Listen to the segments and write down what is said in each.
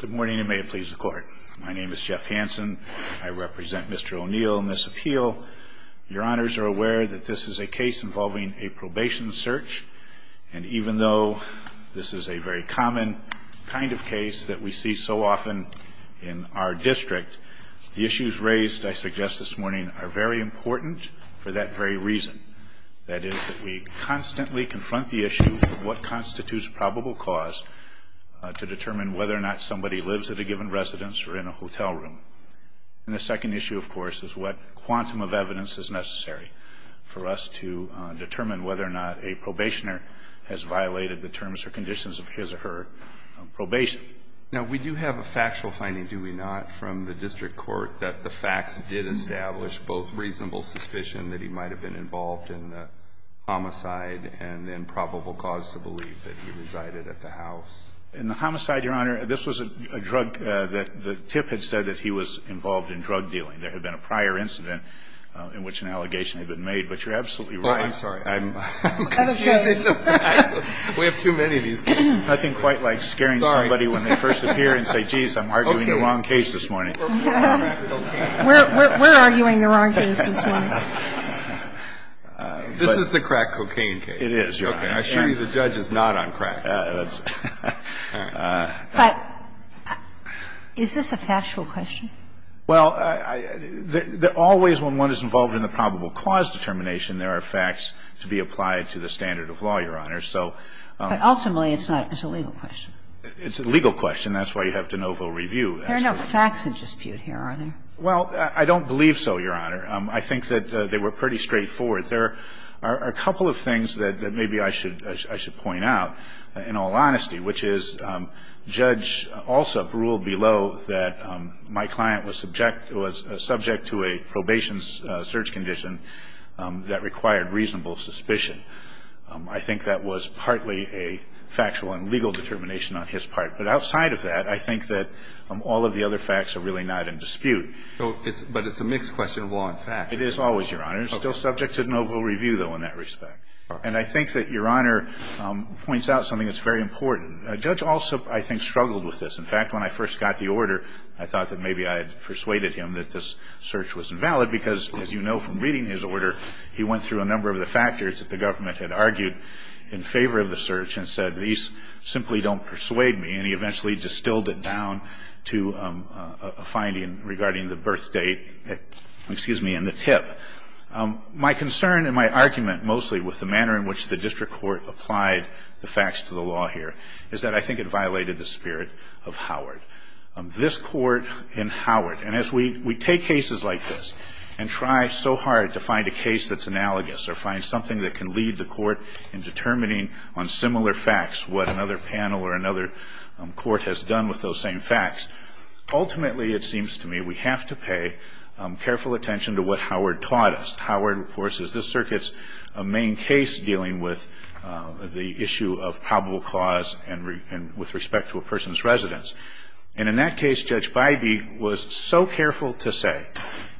Good morning, and may it please the Court. My name is Jeff Hansen. I represent Mr. Oneal in this appeal. Your Honors are aware that this is a case involving a probation search, and even though this is a very common kind of case that we see so often in our district, the issues raised, I suggest this morning, are very important for that very reason. That is, that we constantly confront the issue of what constitutes a probable cause of misdemeanor assault. And that's why I'm here today to talk about this case. The first issue, of course, is to determine whether or not somebody lives at a given residence or in a hotel room. And the second issue, of course, is what quantum of evidence is necessary for us to determine whether or not a probationer has violated the terms or conditions of his or her probation. Now, we do have a factual finding, do we not, from the district court that the facts did establish both reasonable suspicion that he might have been involved in the homicide and then probable cause to believe that he resided at the house. In the homicide, Your Honor, this was a drug that the tip had said that he was involved in drug dealing. There had been a prior incident in which an allegation had been made, but you're absolutely right. Oh, I'm sorry. I'm confused. We have too many of these. Nothing quite like scaring somebody when they first appear and say, jeez, I'm arguing the wrong case this morning. We're arguing the wrong case this morning. This is the crack cocaine case. It is, Your Honor. I assure you the judge is not on crack. But is this a factual question? Well, always when one is involved in the probable cause determination, there are facts to be applied to the standard of law, Your Honor. But ultimately, it's not. It's a legal question. It's a legal question. That's why you have de novo review. There are no facts in dispute here, are there? Well, I don't believe so, Your Honor. I think that they were pretty straightforward. There are a couple of things that maybe I should point out, in all honesty, which is Judge Alsup ruled below that my client was subject to a probation search condition that required reasonable suspicion. I think that was partly a factual and legal determination on his part. But outside of that, I think that all of the other facts are really not in dispute. But it's a mixed question of law and facts. It is always, Your Honor. It's still subject to de novo review, though, in that respect. And I think that Your Honor points out something that's very important. Judge Alsup, I think, struggled with this. In fact, when I first got the order, I thought that maybe I had persuaded him that this search was invalid because, as you know from reading his order, he went through a number of the factors that the government had argued in favor of the search and said, these simply don't persuade me. And he eventually distilled it down to a finding regarding the birth date, excuse me, and the tip. My concern and my argument mostly with the manner in which the district court applied the facts to the law here is that I think it violated the spirit of Howard. This Court in Howard, and as we take cases like this and try so hard to find a case that's analogous or find something that can lead the Court in determining on similar facts what another panel or another court has done with those same facts, ultimately, it seems to me, we have to pay careful attention to what Howard taught us. Howard, of course, is this Circuit's main case dealing with the issue of probable cause and with respect to a person's residence. And in that case, Judge Bybee was so careful to say,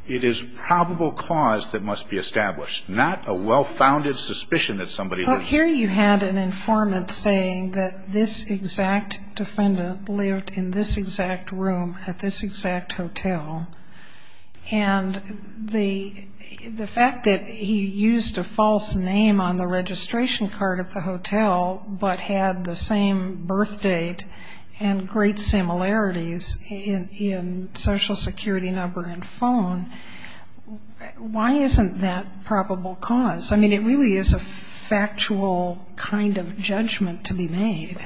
it is probable cause that must be established, not a well-founded suspicion that somebody lived here. Well, here you had an informant saying that this exact defendant lived in this exact room at this exact hotel. And the fact that he used a false name on the registration card at the hotel but had the same birthdate and great similarities in social security number and phone, why isn't that probable cause? I mean, it really is a factual kind of judgment to be made.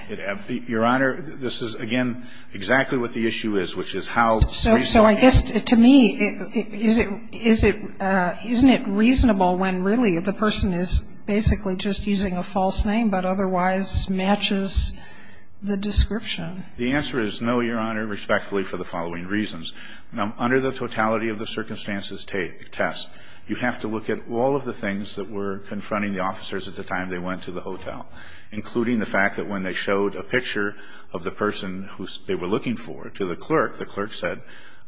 Your Honor, this is, again, exactly what the issue is, which is how reasonable So I guess to me, is it isn't it reasonable when really the person is basically just using a false name but otherwise matches the description? The answer is no, Your Honor, respectfully, for the following reasons. Under the totality of the circumstances test, you have to look at all of the things that were confronting the officers at the time they went to the hotel, including the fact that when they showed a picture of the person who they were looking for to the clerk, the clerk said,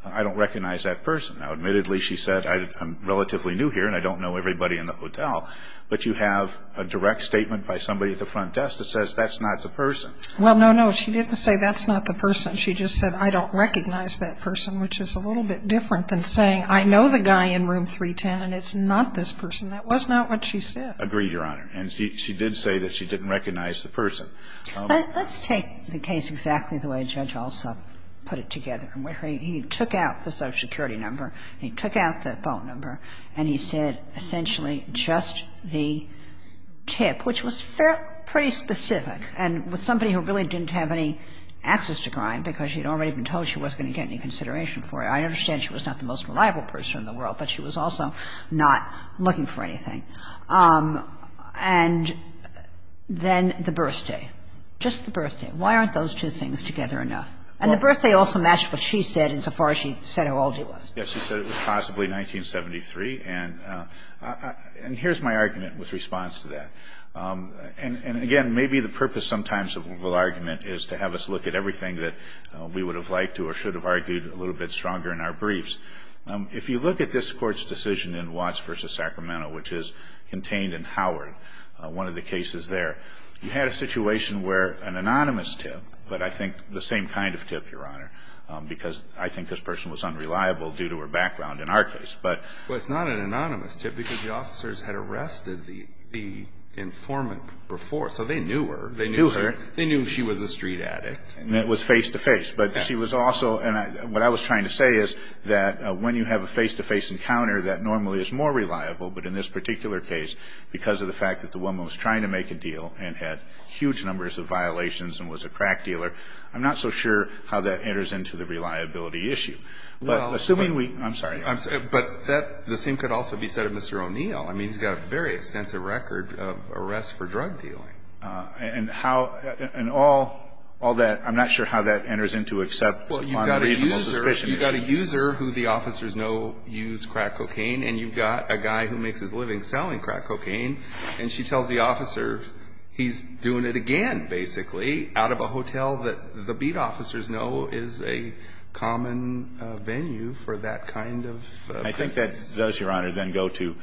I don't recognize that person. Now, admittedly, she said, I'm relatively new here and I don't know everybody in the hotel. But you have a direct statement by somebody at the front desk that says that's not the person. Well, no, no. She didn't say that's not the person. She just said, I don't recognize that person, which is a little bit different than saying, I know the guy in room 310 and it's not this person. That was not what she said. Agreed, Your Honor. And she did say that she didn't recognize the person. Let's take the case exactly the way Judge Alsop put it together, in which he took out the social security number, he took out the phone number, and he said essentially just the tip, which was pretty specific. And with somebody who really didn't have any access to crime, because she had already been told she wasn't going to get any consideration for it. I understand she was not the most reliable person in the world, but she was also not looking for anything. And then the birthday. Just the birthday. Why aren't those two things together enough? And the birthday also matched what she said insofar as she said how old he was. He said it was possibly 1973. And here's my argument with response to that. And, again, maybe the purpose sometimes of the argument is to have us look at everything that we would have liked to or should have argued a little bit stronger in our briefs. If you look at this Court's decision in Watts v. Sacramento, which is contained in Howard, one of the cases there, you had a situation where an anonymous tip, but I think the same kind of tip, Your Honor, because I think this person was unreliable due to her background in our case, but. Well, it's not an anonymous tip, because the officers had arrested the informant before, so they knew her. They knew her. They knew she was a street addict. And it was face-to-face. But she was also, and what I was trying to say is that when you have a face-to-face encounter, that normally is more reliable, but in this particular case, because of the fact that the woman was trying to make a deal and had huge numbers of violations and was a crack dealer, I'm not so sure how that enters into the reliability issue. But assuming we, I'm sorry. But the same could also be said of Mr. O'Neill. I mean, he's got a very extensive record of arrests for drug dealing. And how, and all that, I'm not sure how that enters into except on the reasonable suspicion issue. Well, you've got a user who the officers know used crack cocaine, and you've got a guy who makes his living selling crack cocaine, and she tells the officers he's doing it again, basically, out of a hotel that the beat officers know is a common venue for that kind of. I think that does, Your Honor, then go to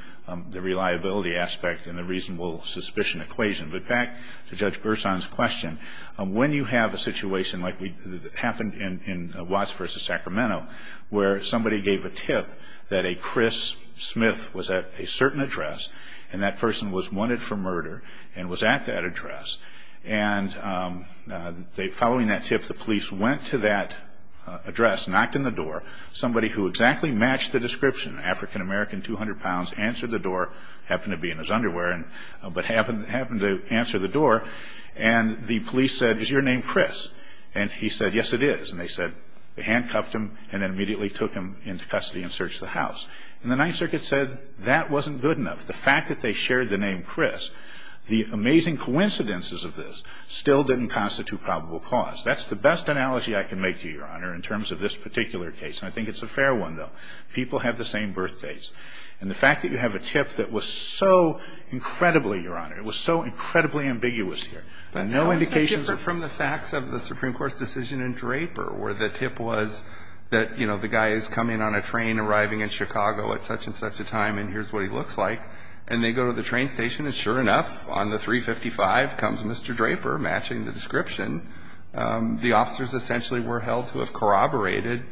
the reliability aspect and the reasonable suspicion equation. But back to Judge Gerson's question, when you have a situation like happened in Watts v. Sacramento, where somebody gave a tip that a Chris Smith was at a certain address, and that person was wanted for murder and was at that address, and following that tip, the police went to that address, knocked on the door. Somebody who exactly matched the description, African American, 200 pounds, answered the door, happened to be in his underwear, but happened to answer the door, and the police said, Is your name Chris? And he said, Yes, it is. And they said, handcuffed him, and then immediately took him into custody and searched the house. And the Ninth Circuit said that wasn't good enough. The fact that they shared the name Chris, the amazing coincidences of this still didn't constitute probable cause. That's the best analogy I can make to you, Your Honor, in terms of this particular case. And I think it's a fair one, though. People have the same birth dates. And the fact that you have a tip that was so incredibly, Your Honor, it was so incredibly ambiguous here. But no indications of the facts of the Supreme Court's decision in Draper, where the tip was that, you know, the guy is coming on a train arriving in Chicago at such and such a time, and here's what he looks like. And they go to the train station, and sure enough, on the 355 comes Mr. Draper matching the description. The officers essentially were held to have corroborated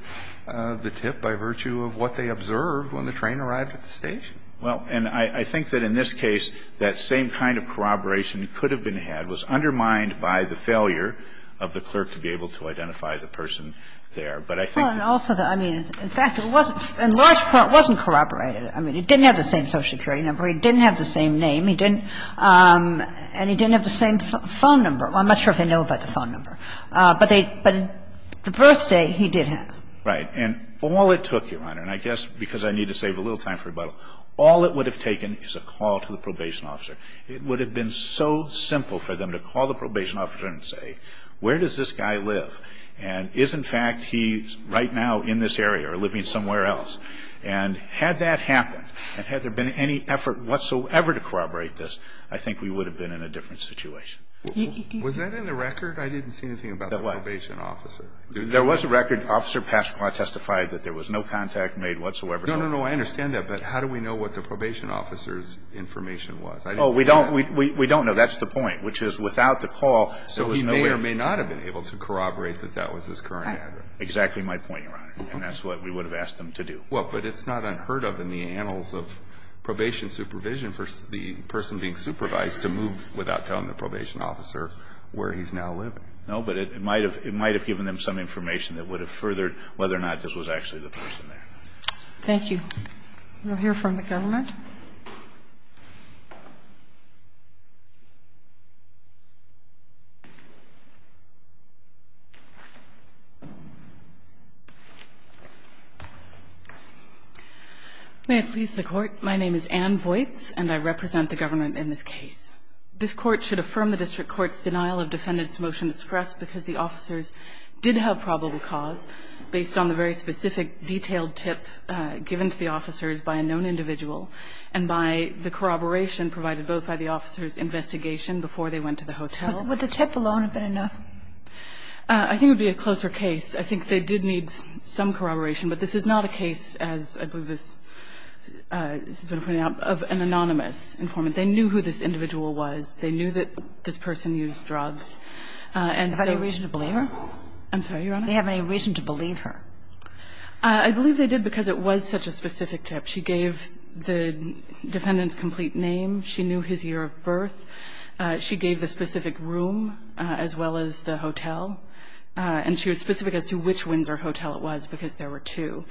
the tip by virtue of what they observed when the train arrived at the station. Well, and I think that in this case, that same kind of corroboration could have been had. It was undermined by the failure of the clerk to be able to identify the person there. But I think that the fact that it wasn't, in large part, it wasn't corroborated. I mean, it didn't have the same Social Security number. It didn't have the same name. And he didn't have the same phone number. Well, I'm not sure if they know about the phone number. But they – but the first day, he did have it. And all it took, Your Honor, and I guess because I need to save a little time for rebuttal, all it would have taken is a call to the probation officer. It would have been so simple for them to call the probation officer and say, where does this guy live? And is, in fact, he right now in this area or living somewhere else? And had that happened, and had there been any effort whatsoever to corroborate this, I think we would have been in a different situation. Was that in the record? I didn't see anything about the probation officer. There was a record. Officer Pasqua testified that there was no contact made whatsoever. No, no, no. I understand that. But how do we know what the probation officer's information was? I didn't see that. Oh, we don't. We don't know. That's the point, which is without the call, there was no way. So he may or may not have been able to corroborate that that was his current address. Exactly my point, Your Honor. And that's what we would have asked them to do. Well, but it's not unheard of in the annals of probation supervision for the person being supervised to move without telling the probation officer where he's now living. No, but it might have given them some information that would have furthered whether or not this was actually the person there. Thank you. We'll hear from the government. May I please the Court? My name is Ann Voights, and I represent the government in this case. This Court should affirm the district court's denial of defendant's motion to suppress because the officers did have probable cause based on the very specific detailed tip given to the officers by a known individual, and the defendant's motion to suppress And by the corroboration provided both by the officers' investigation before they went to the hotel. Would the tip alone have been enough? I think it would be a closer case. I think they did need some corroboration. But this is not a case, as I believe this has been pointed out, of an anonymous informant. They knew who this individual was. They knew that this person used drugs. And so Is there any reason to believe her? I'm sorry, Your Honor? Do they have any reason to believe her? I believe they did because it was such a specific tip. She gave the defendant's complete name. She knew his year of birth. She gave the specific room as well as the hotel. And she was specific as to which Windsor Hotel it was because there were two.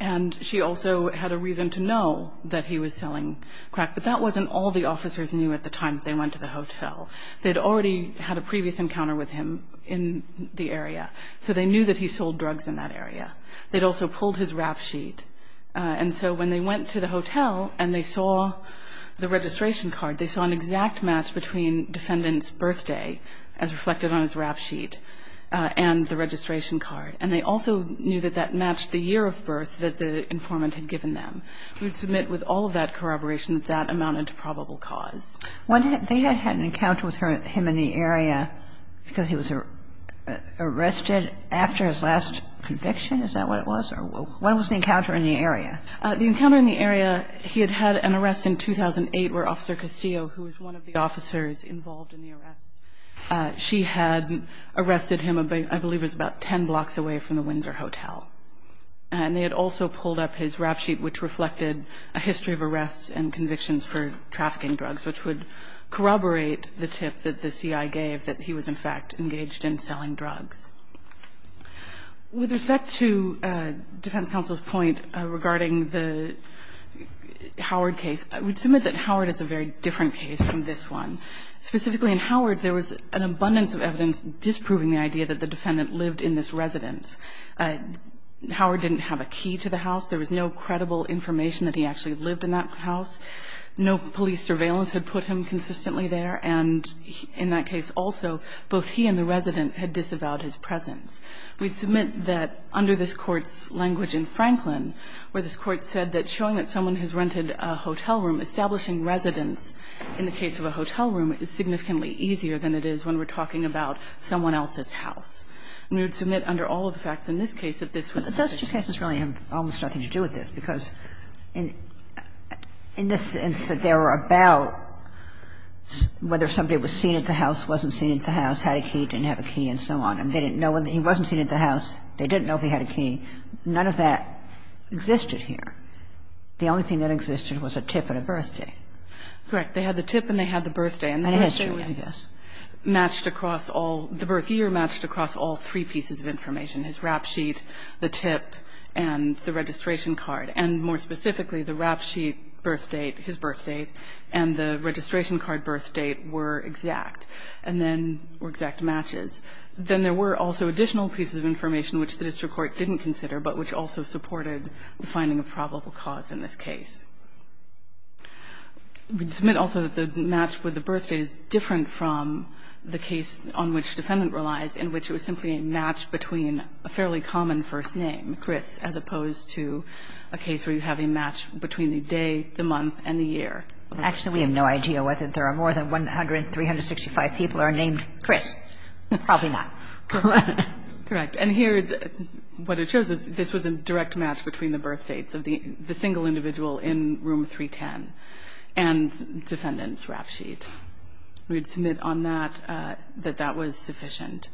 And she also had a reason to know that he was selling crack. But that wasn't all the officers knew at the time that they went to the hotel. They had already had a previous encounter with him in the area. So they knew that he sold drugs in that area. They had also pulled his rap sheet. And so when they went to the hotel and they saw the registration card, they saw an exact match between defendant's birthday, as reflected on his rap sheet, and the registration card. And they also knew that that matched the year of birth that the informant had given them. We would submit with all of that corroboration that that amounted to probable cause. They had had an encounter with him in the area because he was arrested after his conviction. Is that what it was? Or when was the encounter in the area? The encounter in the area, he had had an arrest in 2008 where Officer Castillo, who was one of the officers involved in the arrest, she had arrested him, I believe it was about ten blocks away from the Windsor Hotel. And they had also pulled up his rap sheet, which reflected a history of arrests and convictions for trafficking drugs, which would corroborate the tip that the CIA gave that he was, in fact, engaged in selling drugs. With respect to defense counsel's point regarding the Howard case, I would submit that Howard is a very different case from this one. Specifically in Howard, there was an abundance of evidence disproving the idea that the defendant lived in this residence. Howard didn't have a key to the house. There was no credible information that he actually lived in that house. No police surveillance had put him consistently there. And in that case also, both he and the resident had disavowed his presence. We'd submit that, under this Court's language in Franklin, where this Court said that showing that someone has rented a hotel room, establishing residence in the case of a hotel room is significantly easier than it is when we're talking about someone else's house. And we would submit under all of the facts in this case that this was the case. Kagan, I'm not sure if that's what you're asking, because in the sense that they were about whether somebody was seen at the house, wasn't seen at the house, had a key, didn't have a key, and so on, and they didn't know when he wasn't seen at the house, they didn't know if he had a key, none of that existed here. The only thing that existed was a tip and a birthday. Correct. They had the tip and they had the birthday. And the birthday was matched across all the birth year matched across all three pieces of information, his rap sheet, the tip, and the registration card. And more specifically, the rap sheet birth date, his birth date, and the registration card birth date were exact and then were exact matches. Then there were also additional pieces of information which the district court didn't consider, but which also supported the finding of probable cause in this case. We'd submit also that the match with the birth date is different from the case on which defendant relies, in which it was simply a match between a fairly common first name, Chris, as opposed to a case where you have a match between the day, the month, and the year. Actually, we have no idea whether there are more than 100, 365 people are named Chris. Probably not. Correct. And here, what it shows is this was a direct match between the birth dates of the single individual in room 310 and defendant's rap sheet. We'd submit on that that that was sufficient.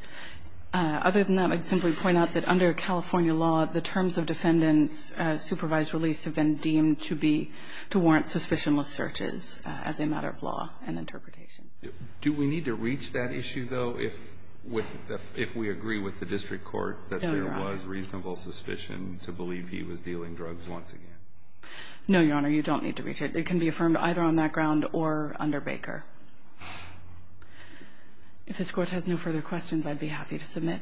Other than that, I'd simply point out that under California law, the terms of defendant's supervised release have been deemed to be to warrant suspicionless searches as a matter of law and interpretation. Do we need to reach that issue, though, if we agree with the district court that there was reasonable suspicion to believe he was dealing drugs once again? No, Your Honor. You don't need to reach it. It can be affirmed either on that ground or under Baker. If this Court has no further questions, I'd be happy to submit.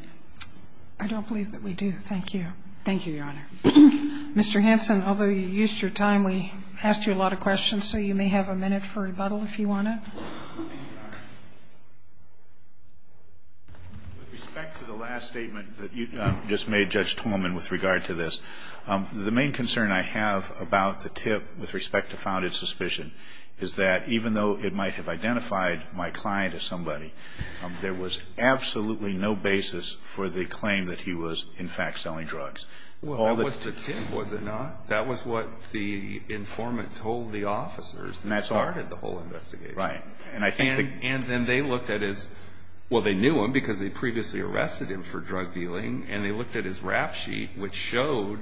I don't believe that we do. Thank you. Thank you, Your Honor. Mr. Hanson, although you used your time, we asked you a lot of questions, so you may have a minute for rebuttal if you want it. With respect to the last statement that you just made, Judge Tolman, with regard to this, the main concern I have about the tip with respect to founded suspicion is that even though it might have identified my client as somebody, there was absolutely no basis for the claim that he was, in fact, selling drugs. Well, that was the tip, was it not? That was what the informant told the officers that started the whole investigation. Right. And then they looked at his – well, they knew him because they previously arrested him for drug dealing, and they looked at his rap sheet, which showed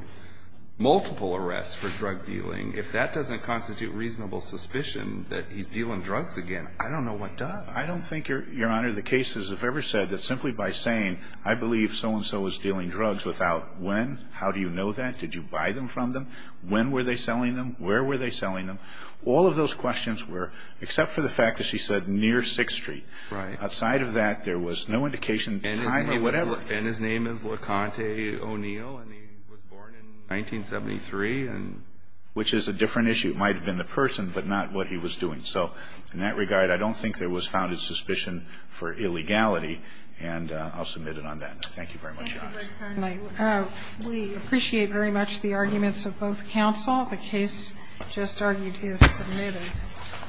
multiple arrests for drug dealing. If that doesn't constitute reasonable suspicion that he's dealing drugs again, I don't know what does. I don't think, Your Honor, the cases have ever said that simply by saying, I believe so-and-so is dealing drugs without when, how do you know that? Did you buy them from them? When were they selling them? Where were they selling them? All of those questions were – except for the fact that she said near 6th Street. Right. Outside of that, there was no indication of time or whatever. And his name is LaConte O'Neill, and he was born in 1973. Which is a different issue. It might have been the person, but not what he was doing. So in that regard, I don't think there was founded suspicion for illegality, and I'll submit it on that. Thank you very much, Your Honor. Thank you, Mr. Carney. We appreciate very much the arguments of both counsel. The case just argued is submitted.